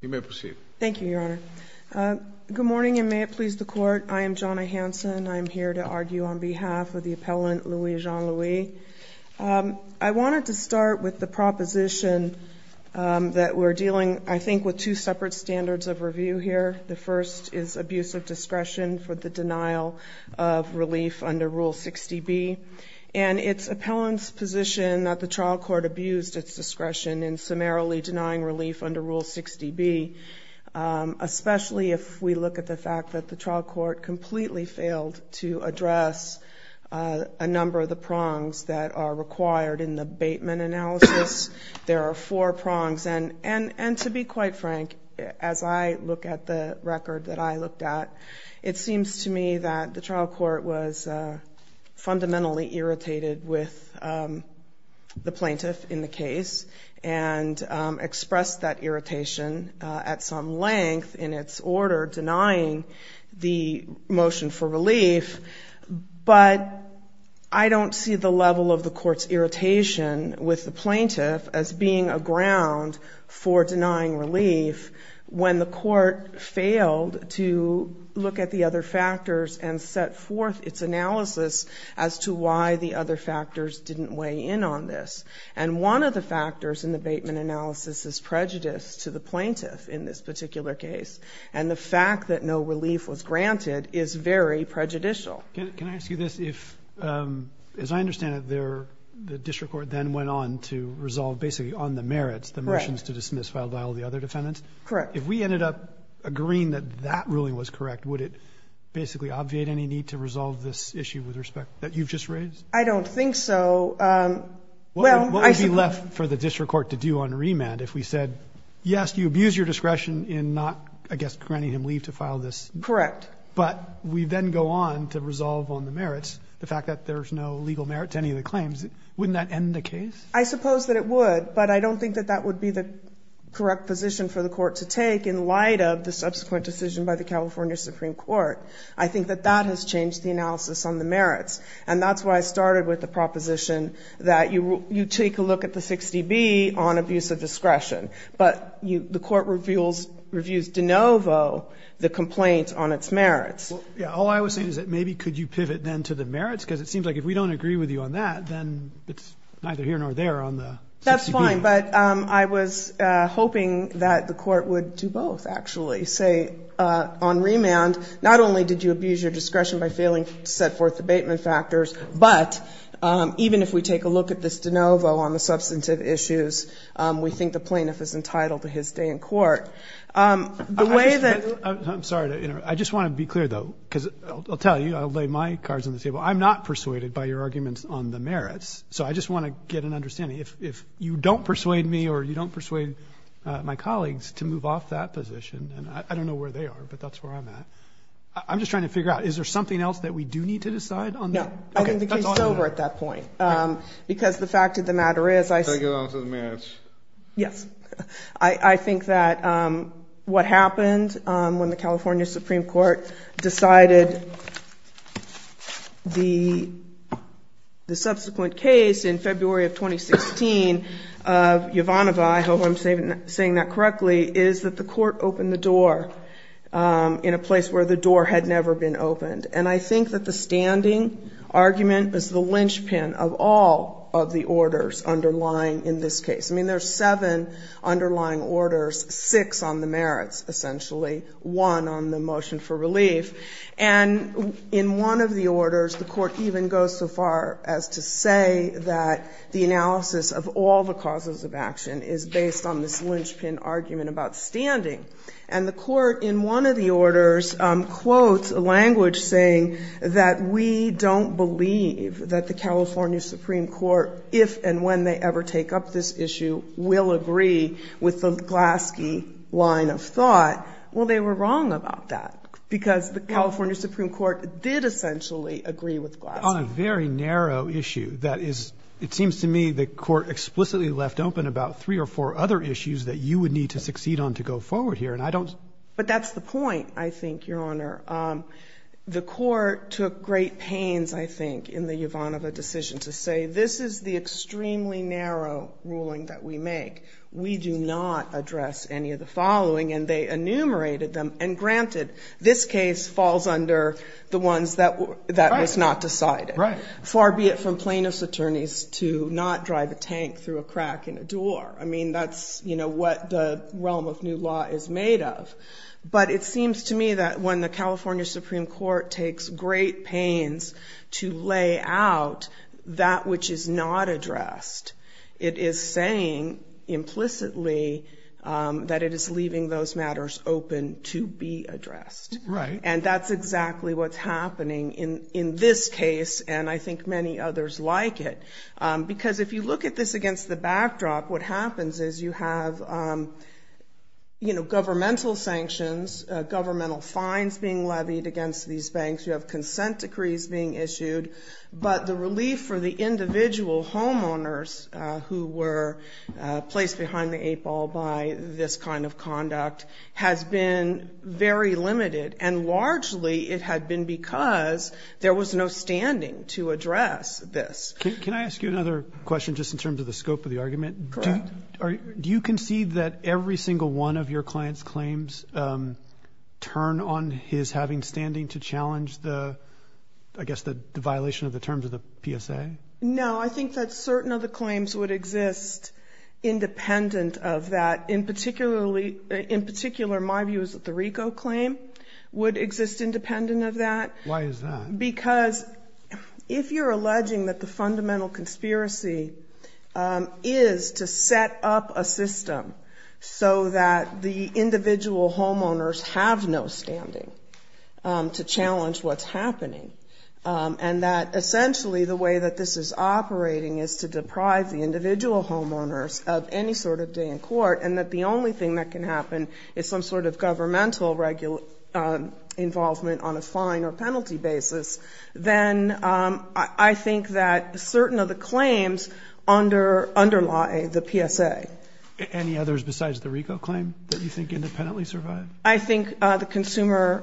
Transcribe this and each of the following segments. You may proceed. Thank you, Your Honor. Good morning, and may it please the Court. I am Jonna Hanson. I am here to argue on behalf of the appellant, Louis Jean-Louis. I wanted to start with the proposition that we're dealing, I think, with two separate standards of review here. The first is abuse of discretion for the denial of relief under Rule 60B, and its appellant's position that the trial court abused its discretion in summarily denying relief under Rule 60B, especially if we look at the fact that the trial court completely failed to address a number of the prongs that are required in the Bateman analysis. There are four prongs, and to be quite frank, as I look at the record that I looked at, it was the plaintiff in the case, and expressed that irritation at some length in its order denying the motion for relief, but I don't see the level of the court's irritation with the plaintiff as being a ground for denying relief when the court failed to look at the other factors and set forth its analysis as to why the other factors didn't weigh in on this. And one of the factors in the Bateman analysis is prejudice to the plaintiff in this particular case, and the fact that no relief was granted is very prejudicial. Can I ask you this? If, as I understand it, the district court then went on to resolve basically on the merits, the motions to dismiss filed by all the other defendants? Correct. If we ended up agreeing that that ruling was correct, would it basically obviate any need to resolve this issue with respect that you've just raised? I don't think so. What would be left for the district court to do on remand if we said, yes, you abused your discretion in not, I guess, granting him leave to file this? Correct. But we then go on to resolve on the merits, the fact that there's no legal merit to any of the claims. Wouldn't that end the case? I suppose that it would, but I don't think that that would be the correct position for the court to take in light of the subsequent decision by the California Supreme Court. I think that that has changed the analysis on the merits, and that's why I started with the proposition that you take a look at the 60B on abuse of discretion, but the court reviews de novo the complaint on its merits. Yeah. All I was saying is that maybe could you pivot then to the merits, because it seems like if we don't agree with you on that, then it's neither here nor there on the 60B. That's fine, but I was hoping that the court would do both, actually, say on remand, not only did you abuse your discretion by failing to set forth the abatement factors, but even if we take a look at this de novo on the substantive issues, we think the plaintiff is entitled to his stay in court. The way that — I'm sorry to interrupt. I just want to be clear, though, because I'll tell you, I'll lay my cards on the table. I'm not persuaded by your arguments on the merits, so I just want to get an understanding. If you don't persuade me or you don't persuade my colleagues to move off that position, and I don't know where they are, but that's where I'm at, I'm just trying to figure out, is there something else that we do need to decide on? No. Okay, that's all I have. I think the case is over at that point. Okay. Because the fact of the matter is — Take it on to the merits. Yes. I think that what happened when the California Supreme Court decided the subsequent case in February of 2016, Yovanovitch, I hope I'm saying that correctly, is that the court opened the door in a place where the door had never been opened. And I think that the standing argument is the linchpin of all of the orders underlying in this case. I mean, there's seven underlying orders, six on the merits, essentially, one on the motion for relief. And in one of the orders, the court even goes so far as to say that the analysis of all the causes of action is based on this linchpin argument about standing. And the court, in one of the orders, quotes a language saying that we don't believe that the California Supreme Court, if and when they ever take up this issue, will agree with the Glaske line of thought. Well, they were wrong about that, because the California Supreme Court did essentially agree with Glaske. On a very narrow issue that is — it seems to me the court explicitly left open about three or four other issues that you would need to succeed on to go forward here. And I don't — But that's the point, I think, Your Honor. The court took great pains, I think, in the not address any of the following, and they enumerated them. And granted, this case falls under the ones that was not decided, far be it from plaintiff's attorneys to not drive a tank through a crack in a door. I mean, that's, you know, what the realm of new law is made of. But it seems to me that when the California Supreme Court takes great pains to lay out that which is not addressed, it is saying implicitly that it is leaving those matters open to be addressed. Right. And that's exactly what's happening in this case, and I think many others like it. Because if you look at this against the backdrop, what happens is you have, you know, governmental sanctions, governmental fines being levied against these banks. You have consent decrees being issued. But the relief for the individual homeowners who were placed behind the eight ball by this kind of conduct has been very limited. And largely, it had been because there was no standing to address this. Can I ask you another question, just in terms of the scope of the argument? Correct. Do you concede that every single one of your client's claims turn on his having standing to challenge the, I guess, the violation of the terms of the PSA? No, I think that certain of the claims would exist independent of that. In particular, my view is that the RICO claim would exist independent of that. Why is that? Because if you're alleging that the fundamental conspiracy is to set up a system so that the individual homeowners can have standing to challenge what's happening, and that essentially the way that this is operating is to deprive the individual homeowners of any sort of day in court, and that the only thing that can happen is some sort of governmental involvement on a fine or penalty basis, then I think that certain of the claims underlie the PSA. Any others besides the RICO claim that you think independently survive? I think the consumer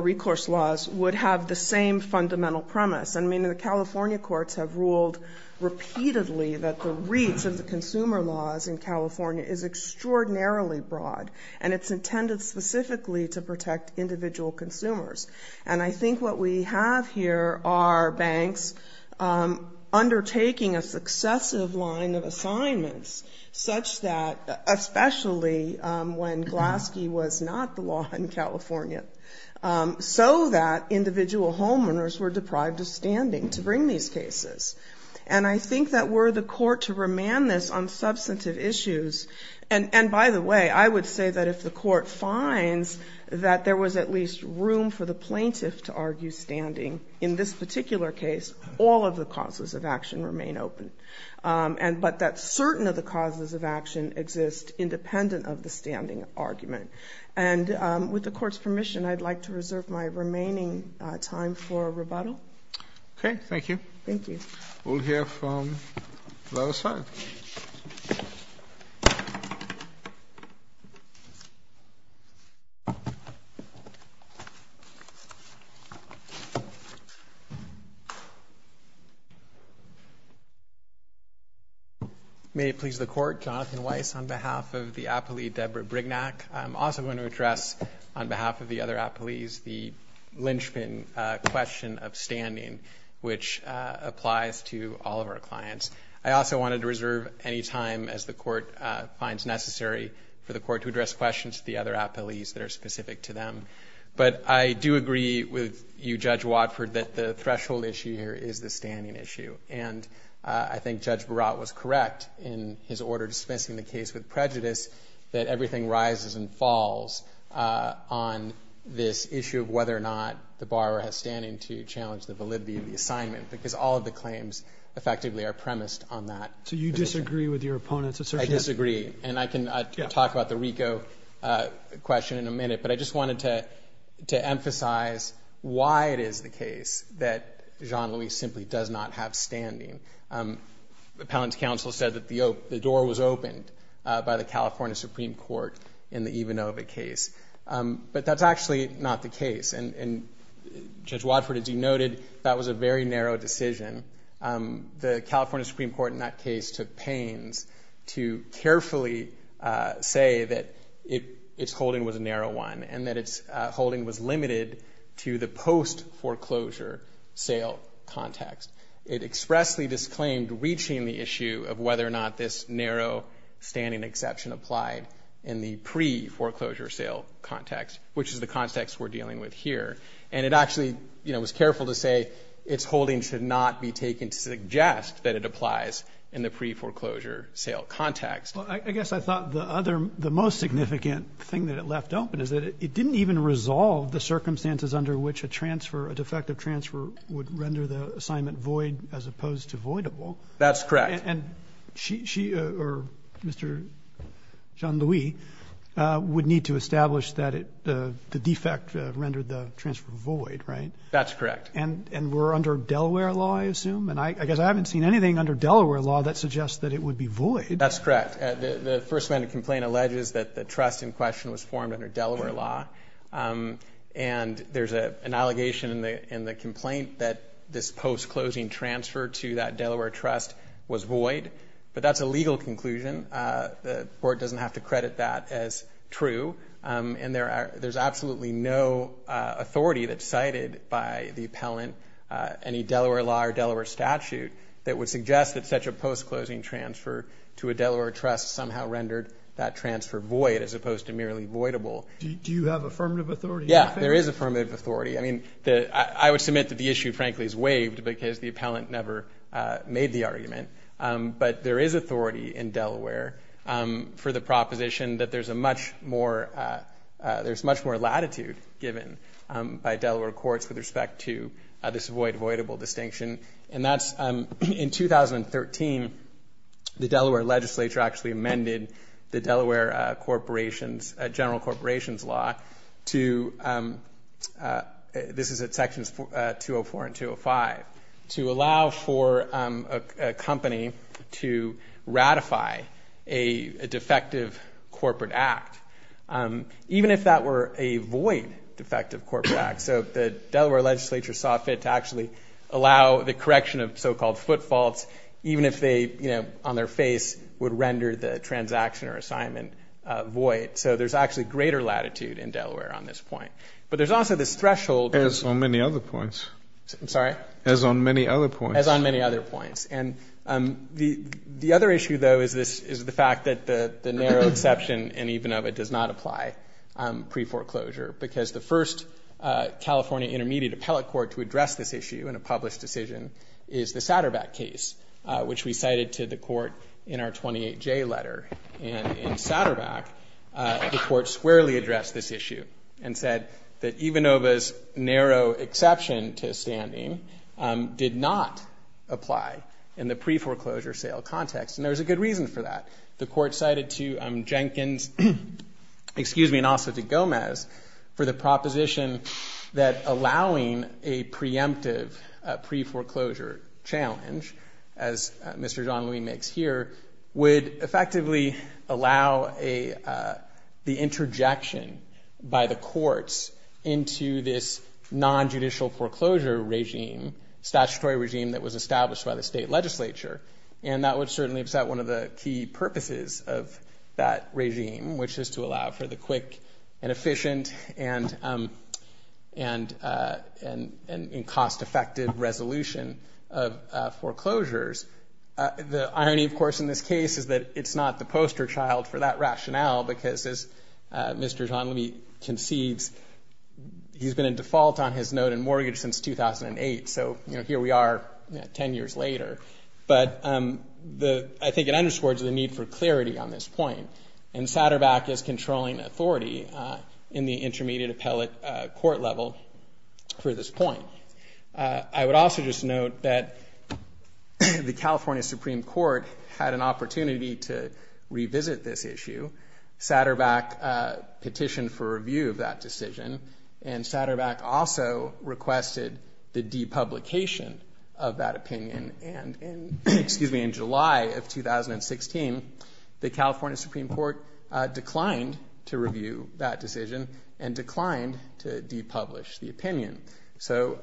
recourse laws would have the same fundamental premise. I mean, the California courts have ruled repeatedly that the reach of the consumer laws in California is extraordinarily broad, and it's intended specifically to protect individual consumers. And I think what we have here are banks undertaking a successive line of assignments such that, especially when Glaske was not the law in California, so that individual homeowners were deprived of standing to bring these cases. And I think that were the court to remand this on substantive issues, and by the way, I would say that if the court finds that there was at least room for the plaintiff to argue standing in this particular case, all of the causes of action exist independent of the standing argument. And with the court's permission, I'd like to reserve my remaining time for rebuttal. Okay. Thank you. Thank you. We'll hear from the other side. Thank you. May it please the Court, Jonathan Weiss on behalf of the appellee Deborah Brignac. I'm also going to address on behalf of the other appellees the lynchpin question of standing, which applies to all of our clients. I also wanted to reserve any time as the court finds necessary for the court to address questions to the other appellees that are specific to them. But I do agree with you, Judge Watford, that the threshold issue here is the standing issue. And I think Judge Barat was correct in his order dismissing the case with prejudice that everything rises and falls on this issue of whether or not the borrower has standing to challenge the validity of the assignment, because all of the claims effectively are premised on that. So you disagree with your opponent's assertion? I disagree. And I can talk about the RICO question in a minute. But I just wanted to emphasize why it is the case that Jean-Louis simply does not have standing. Appellant's counsel said that the door was opened by the California Supreme Court in the Ivanova case. But that's actually not the case. And Judge Watford, as you noted, that was a very narrow decision. The California Supreme Court in that case took pains to carefully say that its holding was a narrow one and that its holding was limited to the post-foreclosure sale context. It expressly disclaimed reaching the issue of whether or not this narrow standing exception applied in the pre-foreclosure sale context, which is the context we're dealing with here. And it actually, you know, was careful to say its holding should not be taken to suggest that it applies in the pre-foreclosure sale context. Well, I guess I thought the other, the most significant thing that it left open is that it didn't even resolve the circumstances under which a transfer, a defective transfer would render the assignment void as opposed to voidable. That's correct. And she, or Mr. Jean-Louis, would need to establish that the defect rendered the transfer void, right? That's correct. And we're under Delaware law, I assume? And I guess I haven't seen anything under Delaware law that suggests that it would be void. That's correct. The first amendment complaint alleges that the trust in question was formed under Delaware law. And there's an allegation in the complaint that this post-closing transfer to that Delaware trust was void. But that's a legal conclusion. The board doesn't have to credit that as true. And there's absolutely no authority that's cited by the appellant, any Delaware law or Delaware statute, that would suggest that such a post-closing transfer to a Delaware trust somehow rendered that transfer void as opposed to merely voidable. Do you have affirmative authority? Yeah, there is affirmative authority. I mean, I would submit that the issue, frankly, is that the court has never made the argument. But there is authority in Delaware for the proposition that there's a much more, there's much more latitude given by Delaware courts with respect to this void, voidable distinction. And that's, in 2013, the Delaware legislature actually amended the Delaware corporations, general corporations law to, this is at sections 204 and 205, to allow for a company to ratify a defective corporate act, even if that were a void defective corporate act. So the Delaware legislature saw fit to actually allow the correction of so-called foot faults, even if they, you know, on their face would render the transaction or assignment void. So there's actually greater latitude in Delaware on this point. But there's also this threshold. As on many other points. I'm sorry? As on many other points. As on many other points. And the other issue, though, is the fact that the narrow exception in Ivanova does not apply pre-foreclosure. Because the first California intermediate appellate court to address this issue in a published decision is the Satterbach case, which we cited to the court in our 28J letter. And in Satterbach, the court squarely addressed this issue and said that Ivanova's narrow exception to standing did not apply in the pre-foreclosure sale context. And there was a good reason for that. The court cited to Jenkins, excuse me, and also to Gomez for the proposition that allowing a preemptive pre-foreclosure challenge, as Mr. John Lee makes here, would effectively allow the interjection by the courts into this non-judicial foreclosure regime, statutory regime that was established by the state legislature. And that would certainly upset one of the key purposes of that regime, which is to allow for the quick and efficient and cost-effective resolution of foreclosures. The irony, of course, in this case is that it's not the poster child for that rationale. Because as Mr. John Lee conceives, he's been in default on his note and mortgage since 2008. So here we are 10 years later. But I think it underscores the need for clarity on this point. And Satterbach is controlling authority in the intermediate appellate court level for this point. I would also just note that the California Supreme Court had an opportunity to revisit this issue. Satterbach petitioned for review of that decision. And Satterbach also requested the depublication of that opinion. And in, excuse me, in July of 2016, the California Supreme Court declined to review that decision and declined to depublish the opinion. So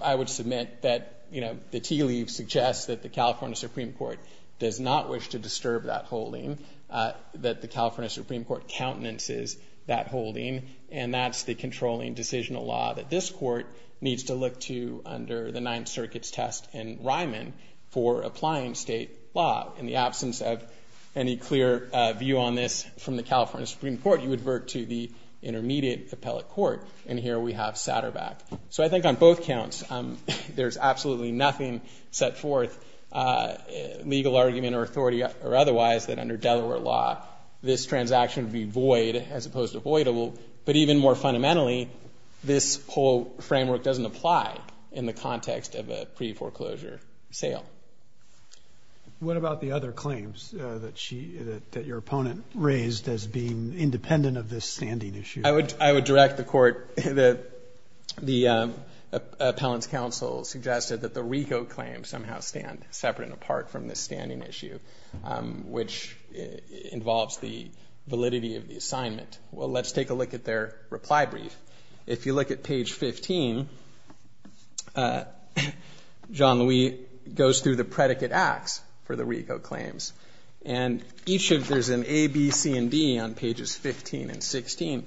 I would submit that the tea leaves suggest that the California Supreme Court does not wish to disturb that holding, that the California Supreme Court countenances that holding. And that's the controlling decisional law that this court needs to look to under the Ninth Circuit's test in Ryman for applying state law. In the absence of any clear view on this from the California Supreme Court, you would work to the intermediate appellate court. And here we have Satterbach. So I think on both counts, there's absolutely nothing set forth, legal argument or authority or otherwise, that under Delaware law, this transaction would be void as opposed to voidable. But even more fundamentally, this whole framework doesn't apply in the context of a pre-foreclosure sale. What about the other claims that she, that your opponent raised as being independent of this standing issue? I would, I would direct the court that the appellant's counsel suggested that the RICO claims somehow stand separate and apart from this standing issue, which involves the validity of the assignment. Well, let's take a look at their reply brief. If you look at page 15, Jean-Louis goes through the predicate acts for the RICO claims. And each of, there's an A, B, C, and D on pages 15 and 16.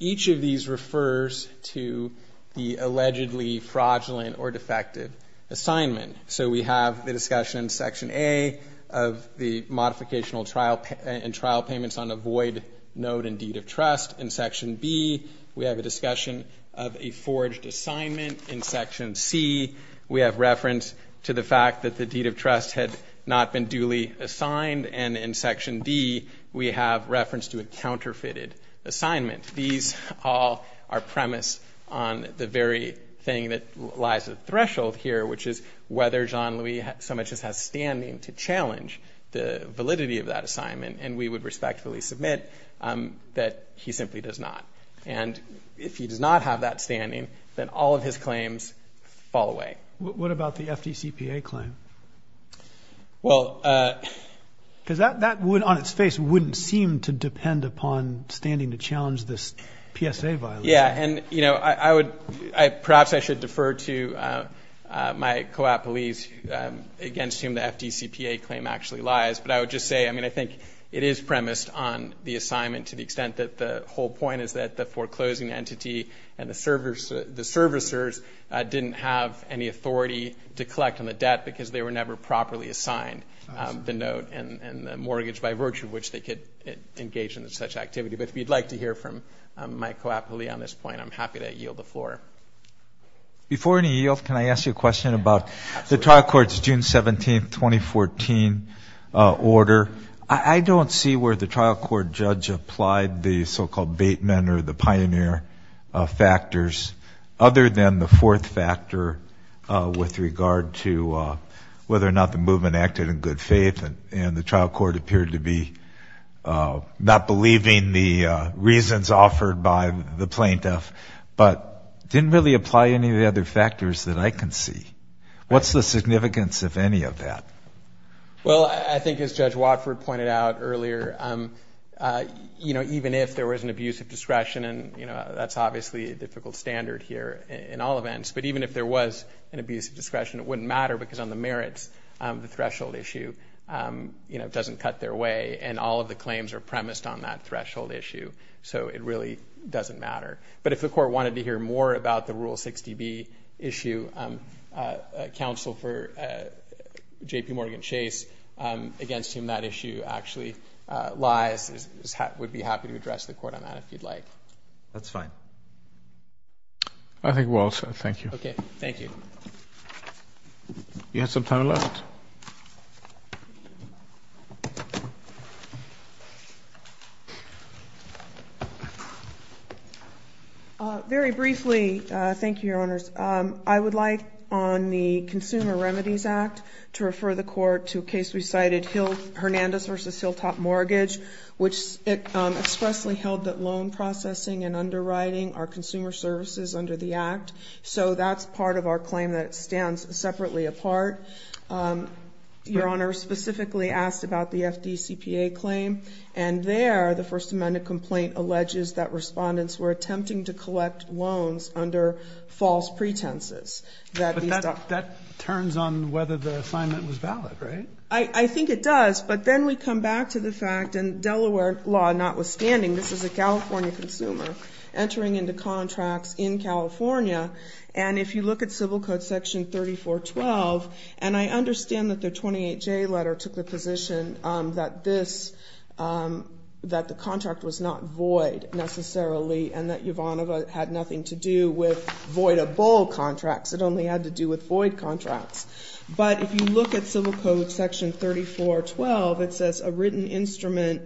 Each of these refers to the allegedly fraudulent or defective assignment. So we have the discussion in section A of the modificational trial and trial payments on a void note and deed of trust. In section B, we have a discussion of a forged assignment. In section C, we have reference to the fact that the deed of trust had not been duly assigned. And in section D, we have reference to a counterfeited assignment. These all are premised on the very thing that lies at the threshold here, which is whether Jean-Louis so much as has standing to challenge the validity of that assignment. And we would respectfully submit that he simply does not. And if he does not have that standing, then all of his claims fall away. What about the FDCPA claim? Because that would, on its face, wouldn't seem to depend upon standing to challenge this PSA violation. Yeah. And perhaps I should defer to my co-op police against whom the FDCPA claim actually lies. But I would just say, I mean, I think it is premised on the assignment to the extent that the whole point is that the foreclosing entity and the servicers didn't have any authority to collect on the debt because they were never properly assigned the note and the mortgage by virtue of which they could engage in such activity. But if you'd like to hear from my co-op police on this point, I'm happy to yield the floor. Before any yield, can I ask you a question about the trial court's June 17, 2014 order? I don't see where the trial court judge applied the so-called bait men or the pioneer factors other than the fourth factor with regard to whether or not the movement acted in good faith and the trial court appeared to be not believing the reasons offered by the plaintiff, but didn't really apply any of the other factors that I can see. What's the significance of any of that? Well, I think as Judge Watford pointed out earlier, even if there was an abuse of discretion, that's obviously a difficult standard here in all events. But even if there was an abuse of discretion, it wouldn't matter because on the merits, the threshold issue doesn't cut their way and all of the claims are premised on that threshold issue. So it really doesn't matter. But if the court wanted to hear more about the Rule 60B issue, counsel for JPMorgan Chase, against whom that issue actually lies, we'd be happy to address the court on that if you'd like. That's fine. I think we'll also. Thank you. Okay. Thank you. You have some time left. Very briefly, thank you, Your Honors. I would like on the Consumer Remedies Act to refer the court to a case we cited, Hernandez v. Hilltop Mortgage, which expressly held that loan processing and underwriting are consumer services under the Act. So that's part of our claim that it stands separately apart. Your Honor specifically asked about the FDCPA claim, and there the First Amendment complaint alleges that respondents were attempting to collect loans under false pretenses. But that turns on whether the assignment was valid, right? I think it does. But then we come back to the fact, in Delaware law notwithstanding, this is a California consumer entering into contracts in California. And if you look at Civil Code Section 3412, and I understand that the 28J letter took the position that this, that the contract was not void, necessarily, and that Yovanova had nothing to do with voidable contracts. It only had to do with void contracts. But if you look at Civil Code Section 3412, it says, a written instrument,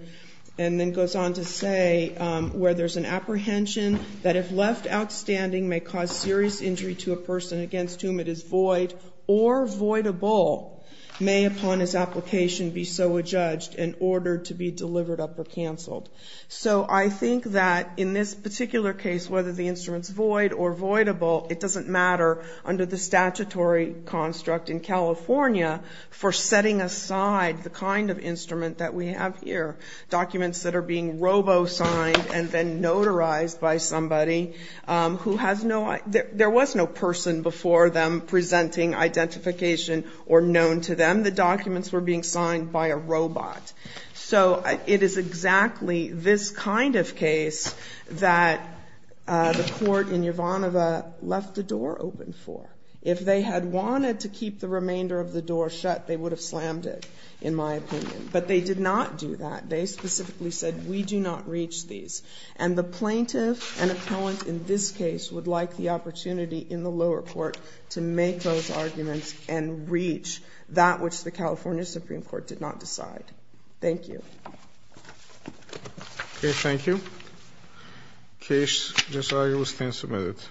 and then goes on to say, where there's an apprehension that if left outstanding may cause serious injury to a person against whom it is void or voidable may, upon his application, be so adjudged in order to be delivered up or canceled. So I think that in this particular case, whether the instrument's void or voidable, it doesn't matter under the statutory construct in California for setting aside the kind of instrument that we have here, documents that are being robo-signed and then notarized by somebody who has no, there was no person before them presenting identification or known to them. The documents were being signed by a robot. So it is exactly this kind of case that the Court in Yovanova left the door open for. If they had wanted to keep the remainder of the door shut, they would have slammed it, in my opinion. But they did not do that. They specifically said, we do not reach these. And the plaintiff and appellant in this case would like the opportunity in the lower court to make those arguments and reach that which the California Supreme Court did not decide. Thank you.